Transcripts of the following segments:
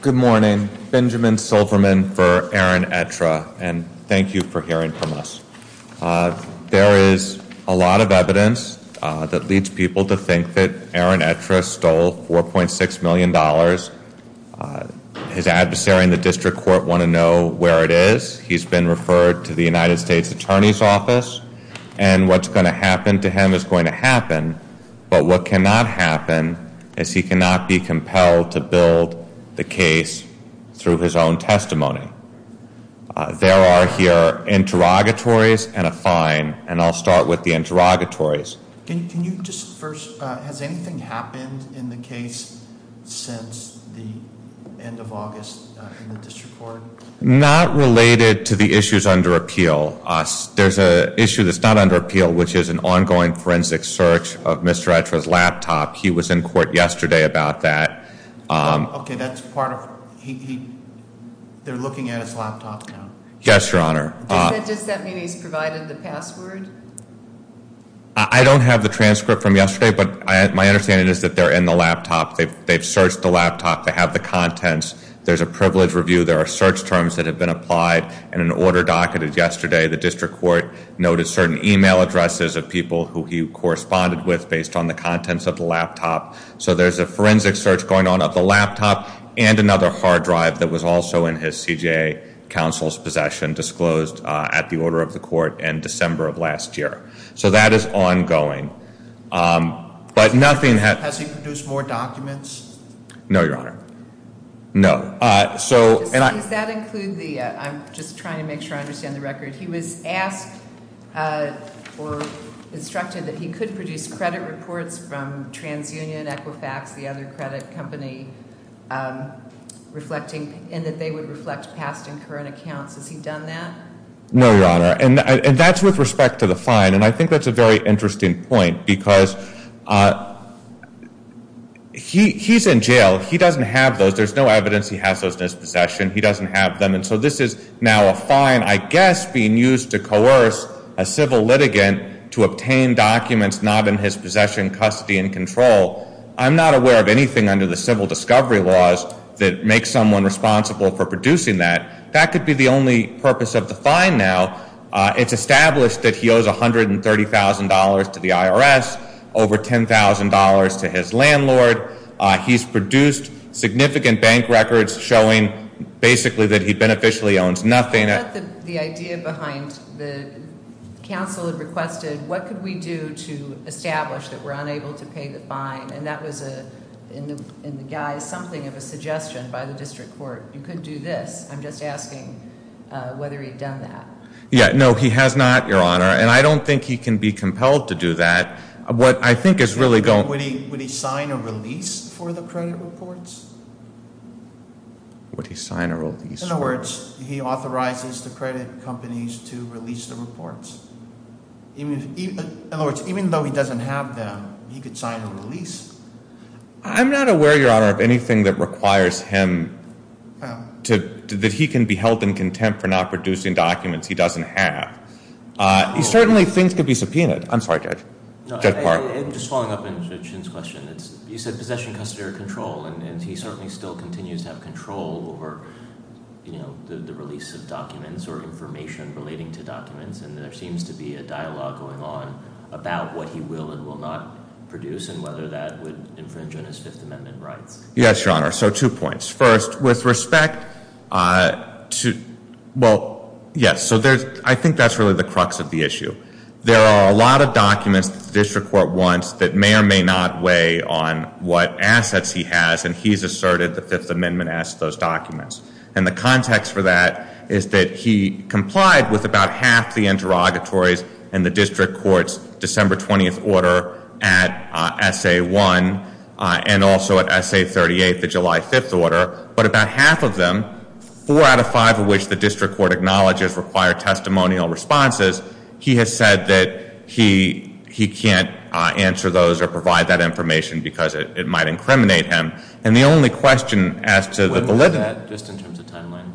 Good morning. Benjamin Silverman for Aaron Etra and thank you for hearing from us. There is a lot of evidence that leads people to think that Aaron Etra stole $4.6 million. His adversary in the district court want to know where it is. He's been referred to the United States Attorney's Office and what's going to happen to him is going to happen. But what cannot happen is he cannot be compelled to build the case through his own testimony. There are here interrogatories and a fine and I'll start with the interrogatories. Has anything happened in the case since the end of August in the district court? Not related to the issues under appeal. There's an issue that's not under appeal which is an ongoing forensic search of Mr. Etra's laptop. He was in court yesterday about that. Okay, that's part of, they're looking at his laptop now. Yes, your honor. Does that mean he's provided the password? I don't have the transcript from yesterday, but my understanding is that they're in the laptop. They've searched the laptop. They have the contents. There's a privilege review. There are search terms that have been applied and an order docketed yesterday. The district court noted certain email addresses of people who he corresponded with based on the contents of the laptop. So there's a forensic search going on of the laptop and another hard drive that was also in his CJA counsel's possession disclosed at the order of the court in December of last year. So that is ongoing. But nothing has- Has he produced more documents? No, your honor. No. So, and I- Does that include the, I'm just trying to make sure I understand the record. He was asked or instructed that he could produce credit reports from TransUnion, Equifax, the other credit company, reflecting, and that they would reflect past and current accounts. Has he done that? No, your honor, and that's with respect to the fine. And I think that's a very interesting point because he's in jail. He doesn't have those. There's no evidence he has those in his possession. He doesn't have them. And so this is now a fine, I guess, being used to coerce a civil litigant to obtain documents not in his possession, custody, and control. I'm not aware of anything under the civil discovery laws that makes someone responsible for producing that. That could be the only purpose of the fine now. It's established that he owes $130,000 to the IRS, over $10,000 to his landlord. He's produced significant bank records showing basically that he beneficially owns nothing. I thought the idea behind the counsel had requested, what could we do to establish that we're unable to pay the fine? And that was in the guise, something of a suggestion by the district court. You could do this. I'm just asking whether he'd done that. Yeah, no, he has not, your honor, and I don't think he can be compelled to do that. What I think is really going- Would he sign a release for the credit reports? Would he sign a release for- In other words, he authorizes the credit companies to release the reports. In other words, even though he doesn't have them, he could sign a release. I'm not aware, your honor, of anything that requires him to, that he can be held in contempt for not producing documents he doesn't have. He certainly thinks it could be subpoenaed. I'm sorry, Judge. Judge Park. Just following up on Chin's question, you said possession, custody, or control. And he certainly still continues to have control over the release of documents or information relating to documents, and there seems to be a dialogue going on about what he will and will not produce, and whether that would infringe on his Fifth Amendment rights. Yes, your honor. So two points. First, with respect to, well, yes, so I think that's really the crux of the issue. There are a lot of documents the district court wants that may or may not weigh on what assets he has, and he's asserted the Fifth Amendment asks those documents. And the context for that is that he complied with about half the interrogatories in the district court's December 20th order at SA1, and also at SA38, the July 5th order. But about half of them, four out of five of which the district court acknowledges require testimonial responses. He has said that he can't answer those or provide that information because it might incriminate him. And the only question as to the validity- When was that, just in terms of timeline?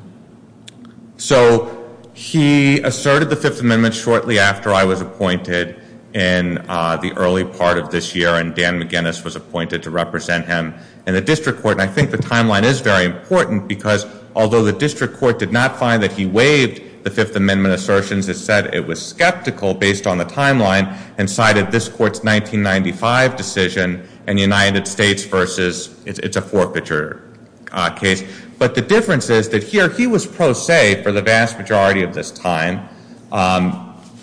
So he asserted the Fifth Amendment shortly after I was appointed in the early part of this year. And Dan McGinnis was appointed to represent him in the district court. And I think the timeline is very important because although the district court did not find that he waived the Fifth Amendment assertions, it said it was skeptical based on the timeline and cited this court's 1995 decision in the United States versus, it's a forfeiture case. But the difference is that here, he was pro se for the vast majority of this time.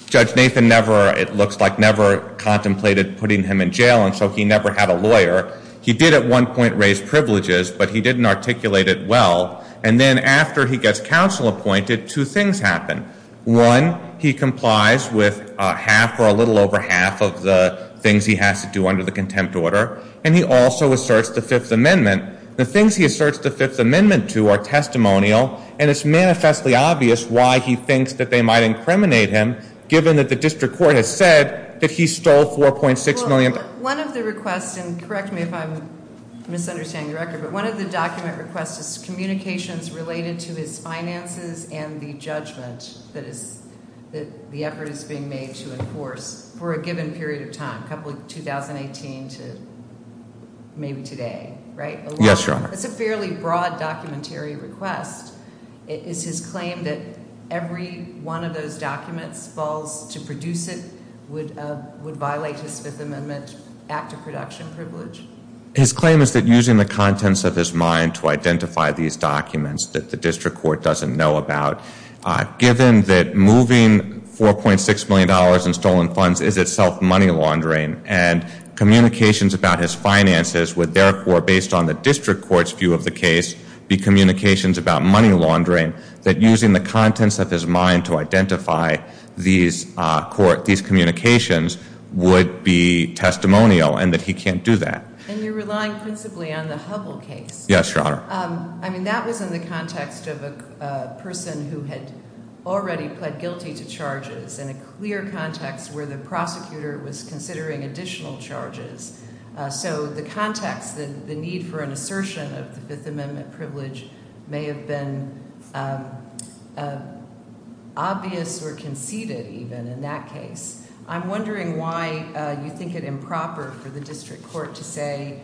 Judge Nathan never, it looks like, never contemplated putting him in jail, and so he never had a lawyer. He did at one point raise privileges, but he didn't articulate it well. And then after he gets counsel appointed, two things happen. One, he complies with half or a little over half of the things he has to do under the contempt order. And he also asserts the Fifth Amendment. The things he asserts the Fifth Amendment to are testimonial. And it's manifestly obvious why he thinks that they might incriminate him, given that the district court has said that he stole 4.6 million- One of the requests, and correct me if I'm misunderstanding the record, but one of the document requests is communications related to his finances and the judgment that the effort is being made to enforce for a given period of time, couple of 2018 to maybe today, right? Yes, Your Honor. It's a fairly broad documentary request. It is his claim that every one of those documents, false to produce it, would violate his Fifth Amendment act of production privilege. His claim is that using the contents of his mind to identify these documents that the district court doesn't know about. Given that moving $4.6 million in stolen funds is itself money laundering and communications about his finances would therefore, based on the district court's view of the case, be communications about money laundering, that using the contents of his mind to identify these communications would be testimonial, and that he can't do that. And you're relying principally on the Hubble case. Yes, Your Honor. I mean, that was in the context of a person who had already pled guilty to charges, in a clear context where the prosecutor was considering additional charges. So the context, the need for an assertion of the Fifth Amendment privilege may have been obvious or conceded even in that case. I'm wondering why you think it improper for the district court to say,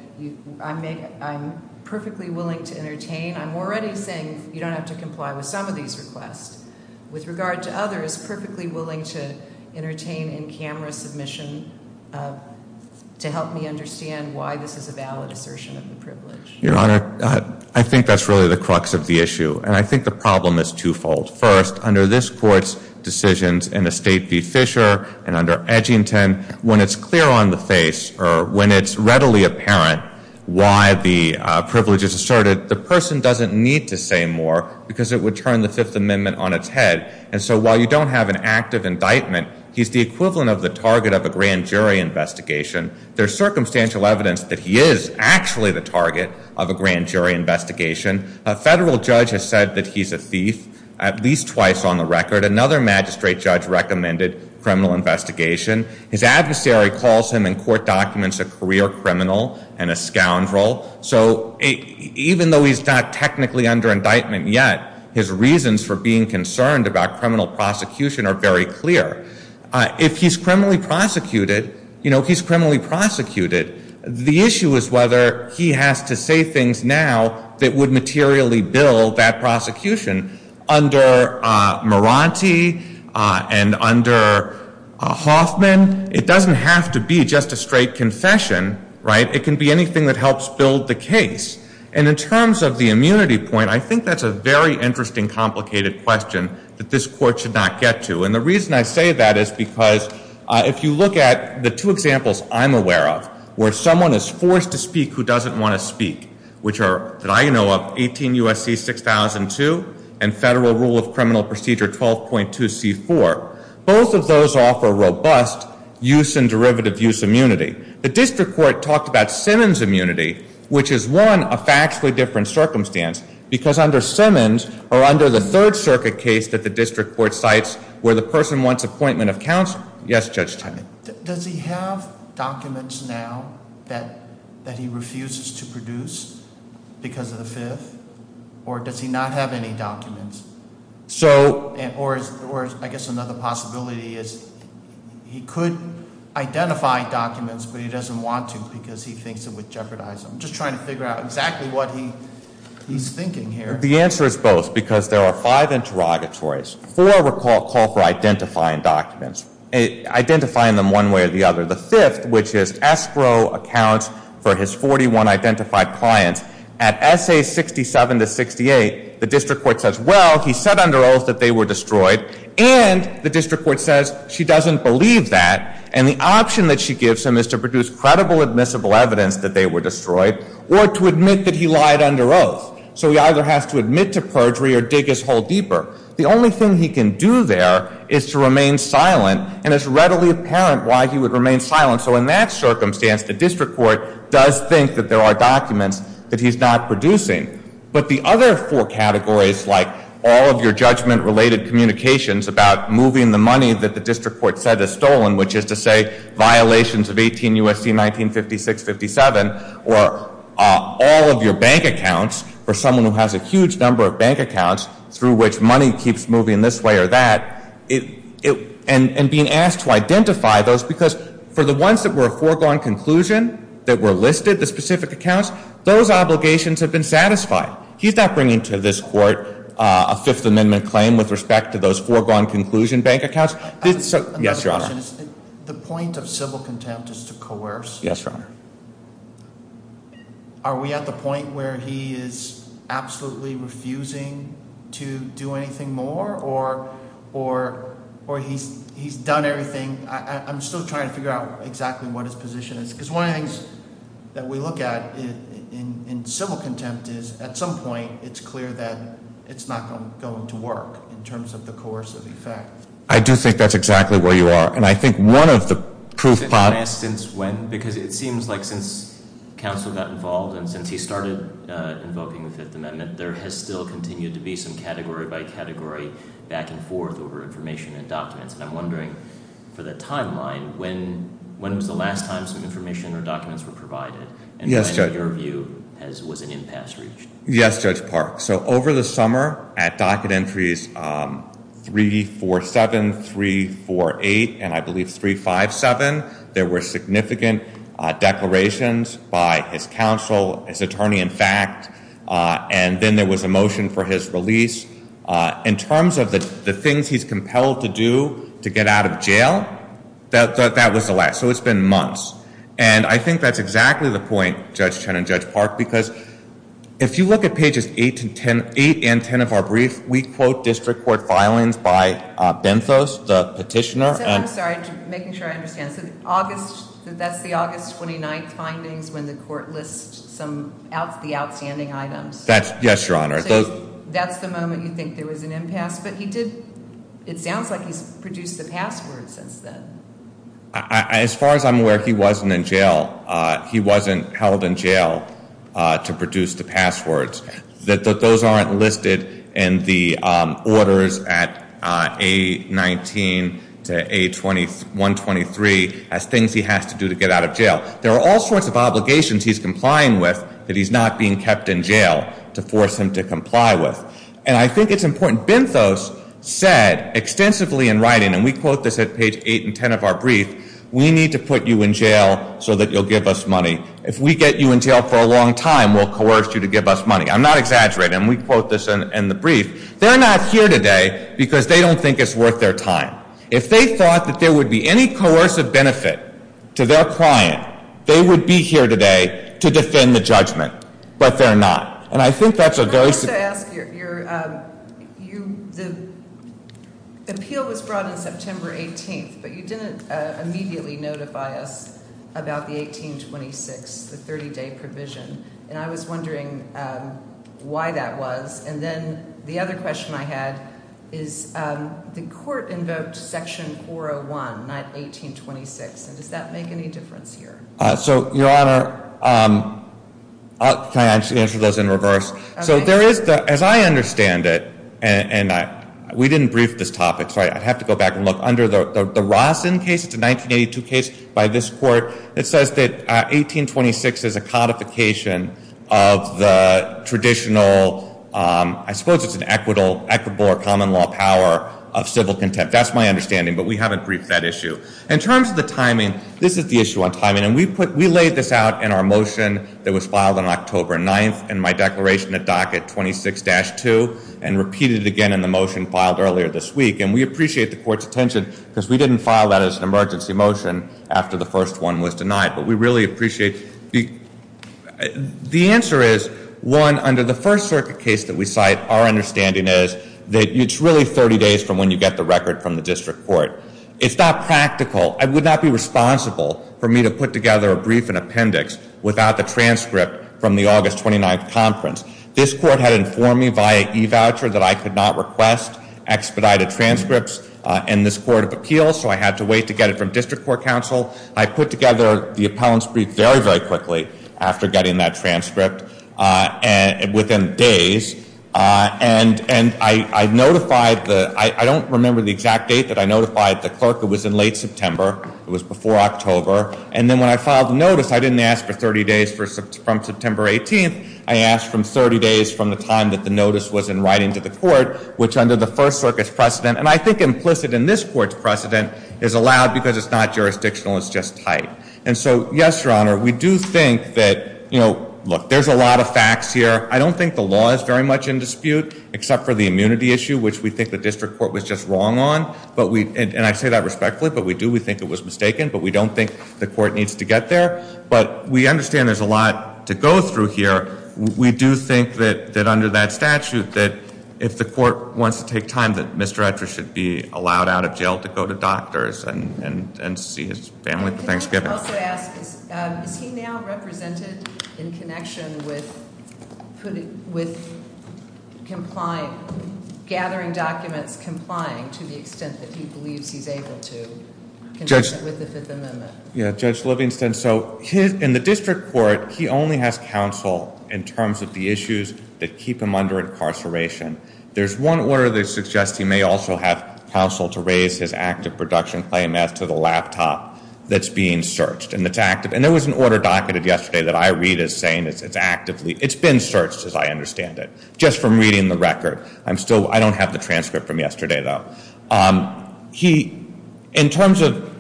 I'm perfectly willing to entertain. I'm already saying you don't have to comply with some of these requests. With regard to others, perfectly willing to entertain in-camera submission to help me understand why this is a valid assertion of the privilege. Your Honor, I think that's really the crux of the issue, and I think the problem is twofold. First, under this court's decisions in the state v. Fisher and under Edgington, when it's clear on the face, or when it's readily apparent why the privilege is asserted, the person doesn't need to say more because it would turn the Fifth Amendment on its head. And so while you don't have an active indictment, he's the equivalent of the target of a grand jury investigation. There's circumstantial evidence that he is actually the target of a grand jury investigation. A federal judge has said that he's a thief at least twice on the record. Another magistrate judge recommended criminal investigation. His adversary calls him in court documents a career criminal and a scoundrel. So even though he's not technically under indictment yet, his reasons for being concerned about criminal prosecution are very clear. If he's criminally prosecuted, you know, he's criminally prosecuted. The issue is whether he has to say things now that would materially build that prosecution. Under Maranti and under Hoffman, it doesn't have to be just a straight confession, right? It can be anything that helps build the case. And in terms of the immunity point, I think that's a very interesting, complicated question that this court should not get to. And the reason I say that is because if you look at the two examples I'm aware of, where someone is forced to speak who doesn't want to speak, which are, that I know of, 18 U.S.C. 6002 and Federal Rule of Criminal Procedure 12.2C4. Both of those offer robust use and derivative use immunity. The district court talked about Simmons immunity, which is one, a factually different circumstance. Because under Simmons, or under the Third Circuit case that the district court cites, where the person wants appointment of counsel. Yes, Judge Tenney? Does he have documents now that he refuses to produce because of the fifth? Or does he not have any documents? Or I guess another possibility is he could identify documents, but he doesn't want to because he thinks it would jeopardize him. Just trying to figure out exactly what he's thinking here. The answer is both, because there are five interrogatories. Four call for identifying documents, identifying them one way or the other. The fifth, which is escrow accounts for his 41 identified clients. At SA 67 to 68, the district court says, well, he said under oath that they were destroyed. And the district court says, she doesn't believe that. And the option that she gives him is to produce credible admissible evidence that they were destroyed, or to admit that he lied under oath. So he either has to admit to perjury or dig his hole deeper. The only thing he can do there is to remain silent, and it's readily apparent why he would remain silent. So in that circumstance, the district court does think that there are documents that he's not producing. But the other four categories, like all of your judgment related communications about moving the money that the district court said is stolen, which is to say violations of 18 U.S.C. 1956-57, or all of your bank accounts for someone who has a huge number of bank accounts, through which money keeps moving this way or that, and being asked to identify those. Because for the ones that were a foregone conclusion, that were listed, the specific accounts, those obligations have been satisfied. He's not bringing to this court a Fifth Amendment claim with respect to those foregone conclusion bank accounts. Yes, Your Honor. The point of civil contempt is to coerce. Yes, Your Honor. Are we at the point where he is absolutely refusing to do anything more, or he's done everything? I'm still trying to figure out exactly what his position is. because one of the things that we look at in civil contempt is, at some point, it's clear that it's not going to work in terms of the coercive effect. I do think that's exactly where you are. And I think one of the proof- Since when? Because it seems like since counsel got involved and since he started invoking the Fifth Amendment, there has still continued to be some category by category back and forth over information and documents. And I'm wondering, for the timeline, when was the last time some information or documents were provided? And when, in your view, was an impasse reached? Yes, Judge Park. So over the summer, at docket entries 347, 348, and I believe 357, there were significant declarations by his counsel, his attorney, in fact. And then there was a motion for his release. In terms of the things he's compelled to do to get out of jail, that was the last. So it's been months. And I think that's exactly the point, Judge Chen and Judge Park, because if you look at pages 8 and 10 of our brief, we quote district court filings by Benthos, the petitioner. I'm sorry, making sure I understand. I said August, that's the August 29th findings when the court lists some of the outstanding items. Yes, Your Honor. That's the moment you think there was an impasse, but he did, it sounds like he's produced the passwords since then. As far as I'm aware, he wasn't in jail. He wasn't held in jail to produce the passwords. That those aren't listed in the orders at A19 to A123. As things he has to do to get out of jail. There are all sorts of obligations he's complying with that he's not being kept in jail to force him to comply with. And I think it's important. Benthos said extensively in writing, and we quote this at page 8 and 10 of our brief. We need to put you in jail so that you'll give us money. If we get you in jail for a long time, we'll coerce you to give us money. I'm not exaggerating. We quote this in the brief. They're not here today because they don't think it's worth their time. If they thought that there would be any coercive benefit to their client, they would be here today to defend the judgment, but they're not. And I think that's a very- I'd like to ask you, the appeal was brought in September 18th, but you didn't immediately notify us about the 1826, the 30 day provision. And I was wondering why that was. And then the other question I had is the court invoked section 401, not 1826. And does that make any difference here? So, Your Honor, can I answer those in reverse? So there is, as I understand it, and we didn't brief this topic, so I'd have to go back and look. Under the Rossin case, it's a 1982 case by this court. It says that 1826 is a codification of the traditional, I suppose it's an equitable or common law power of civil contempt. That's my understanding, but we haven't briefed that issue. In terms of the timing, this is the issue on timing. And we laid this out in our motion that was filed on October 9th in my declaration at docket 26-2 and repeated again in the motion filed earlier this week. And we appreciate the court's attention because we didn't file that as an emergency motion after the first one was denied. But we really appreciate. The answer is, one, under the First Circuit case that we cite, our understanding is that it's really 30 days from when you get the record from the district court. It's not practical. I would not be responsible for me to put together a brief and appendix without the transcript from the August 29th conference. This court had informed me via e-voucher that I could not request expedited transcripts in this court of appeal. So I had to wait to get it from district court counsel. I put together the appellant's brief very, very quickly after getting that transcript within days. And I notified the, I don't remember the exact date that I notified the clerk. It was in late September. It was before October. And then when I filed the notice, I didn't ask for 30 days from September 18th. I asked for 30 days from the time that the notice was in writing to the court, which under the First Circuit's precedent, and I think implicit in this court's precedent, is allowed because it's not jurisdictional, it's just tight. And so, yes, your honor, we do think that, look, there's a lot of facts here. I don't think the law is very much in dispute, except for the immunity issue, which we think the district court was just wrong on. And I say that respectfully, but we do, we think it was mistaken, but we don't think the court needs to get there. But we understand there's a lot to go through here. We do think that under that statute, that if the court wants to take time, that Mr. Etcher should be allowed out of jail to go to doctors and see his family for Thanksgiving. I also ask, is he now represented in connection with gathering documents, complying to the extent that he believes he's able to with the Fifth Amendment? Yeah, Judge Livingston, so in the district court, he only has counsel in terms of the issues that keep him under incarceration. There's one order that suggests he may also have counsel to raise his active production claim as to the laptop that's being searched, and it's active. And there was an order docketed yesterday that I read as saying it's actively, it's been searched as I understand it. Just from reading the record. I'm still, I don't have the transcript from yesterday though. He, in terms of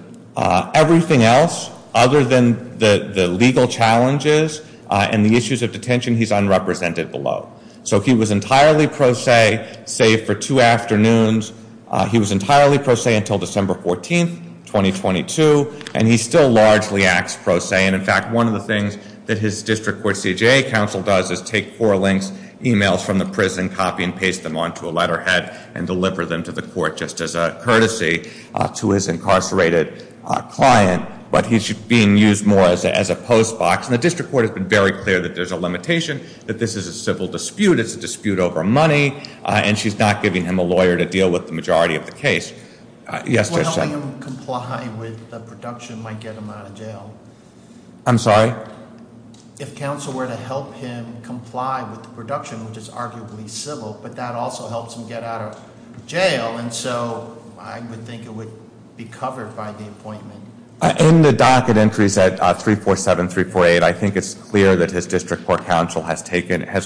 everything else other than the legal challenges and the issues of detention, he's unrepresented below. So he was entirely pro se, save for two afternoons. He was entirely pro se until December 14th, 2022, and he still largely acts pro se. And in fact, one of the things that his district court CJA counsel does is take four links, emails from the prison, copy and paste them onto a letterhead, and deliver them to the court just as a courtesy to his incarcerated client. But he's being used more as a post box. And the district court has been very clear that there's a limitation, that this is a civil dispute. It's a dispute over money, and she's not giving him a lawyer to deal with the majority of the case. Yes, Judge. If we're helping him comply with the production, we might get him out of jail. I'm sorry? If counsel were to help him comply with the production, which is arguably civil, but that also helps him get out of jail, and so I would think it would be covered by the appointment. In the docket entries at 347, 348, I think it's clear that his district court counsel has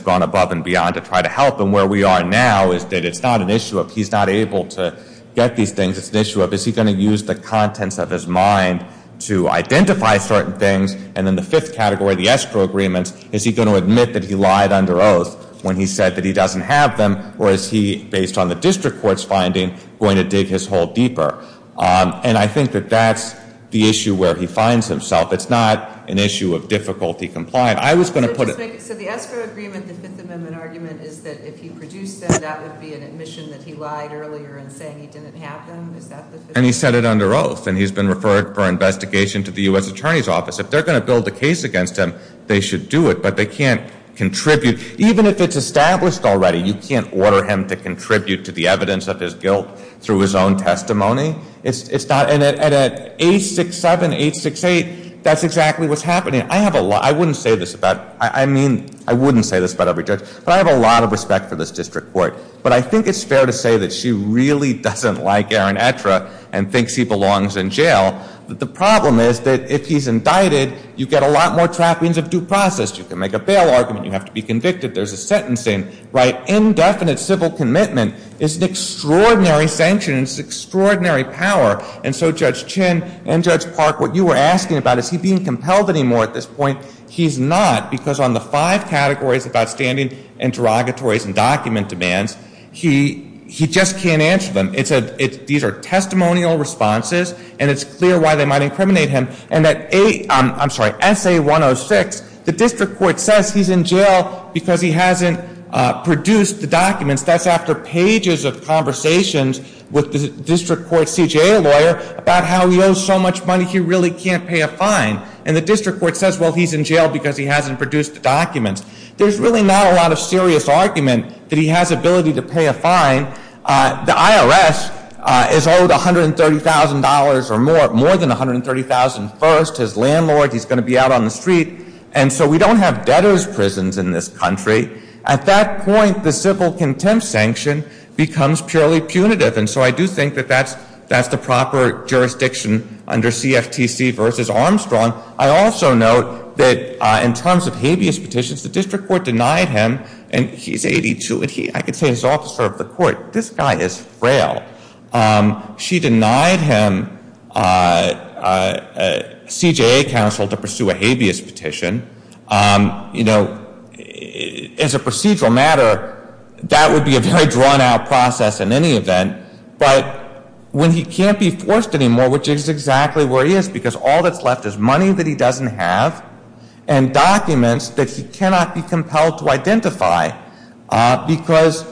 gone above and beyond to try to help, and where we are now is that it's not an issue of he's not able to get these things. It's an issue of, is he going to use the contents of his mind to identify certain things? And then the fifth category, the escrow agreements, is he going to admit that he lied under oath when he said that he doesn't have them? Or is he, based on the district court's finding, going to dig his hole deeper? And I think that that's the issue where he finds himself. It's not an issue of difficulty complying. I was going to put it- So the escrow agreement, the Fifth Amendment argument, is that if you produce them, that would be an admission that he lied earlier in saying he didn't have them? Is that the- And he said it under oath, and he's been referred for investigation to the US Attorney's Office. If they're going to build a case against him, they should do it, but they can't contribute. Even if it's established already, you can't order him to contribute to the evidence of his guilt through his own testimony. It's not, and at 867, 868, that's exactly what's happening. I have a lot, I wouldn't say this about, I mean, I wouldn't say this about every judge, but I have a lot of respect for this district court. But I think it's fair to say that she really doesn't like Aaron Etra and thinks he belongs in jail. But the problem is that if he's indicted, you get a lot more trappings of due process. You can make a bail argument, you have to be convicted, there's a sentencing, right? Indefinite civil commitment is an extraordinary sanction, it's an extraordinary power. And so Judge Chin and Judge Park, what you were asking about, is he being compelled anymore at this point? He's not, because on the five categories of outstanding interrogatories and document demands, he just can't answer them. These are testimonial responses, and it's clear why they might incriminate him. And that, I'm sorry, SA 106, the district court says he's in jail because he hasn't produced the documents. That's after pages of conversations with the district court CJA lawyer about how he owes so much money he really can't pay a fine. And the district court says, well, he's in jail because he hasn't produced the documents. There's really not a lot of serious argument that he has ability to pay a fine. The IRS is owed $130,000 or more, more than $130,000 first, his landlord, he's going to be out on the street. And so we don't have debtor's prisons in this country. At that point, the civil contempt sanction becomes purely punitive. And so I do think that that's the proper jurisdiction under CFTC versus Armstrong. I also note that in terms of habeas petitions, the district court denied him. And he's 82, and I could say he's an officer of the court. This guy is frail. She denied him CJA counsel to pursue a habeas petition. You know, as a procedural matter, that would be a very drawn out process in any event. But when he can't be forced anymore, which is exactly where he is, because all that's left is money that he doesn't have. And documents that he cannot be compelled to identify, because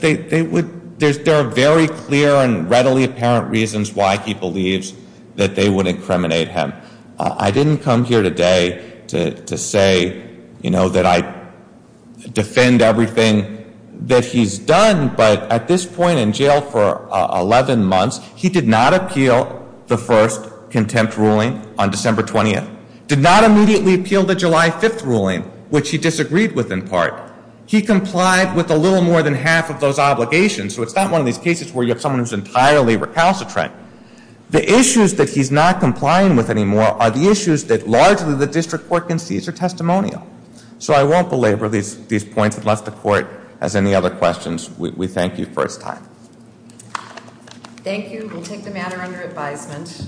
there are very clear and readily apparent reasons why he believes that they would incriminate him. I didn't come here today to say that I defend everything that he's done, but at this point in jail for 11 months, he did not appeal the first contempt ruling on December 20th. Did not immediately appeal the July 5th ruling, which he disagreed with in part. He complied with a little more than half of those obligations. So it's not one of these cases where you have someone who's entirely recalcitrant. The issues that he's not complying with anymore are the issues that largely the district court concedes are testimonial. So I won't belabor these points unless the court has any other questions. We thank you for his time. Thank you, we'll take the matter under advisement.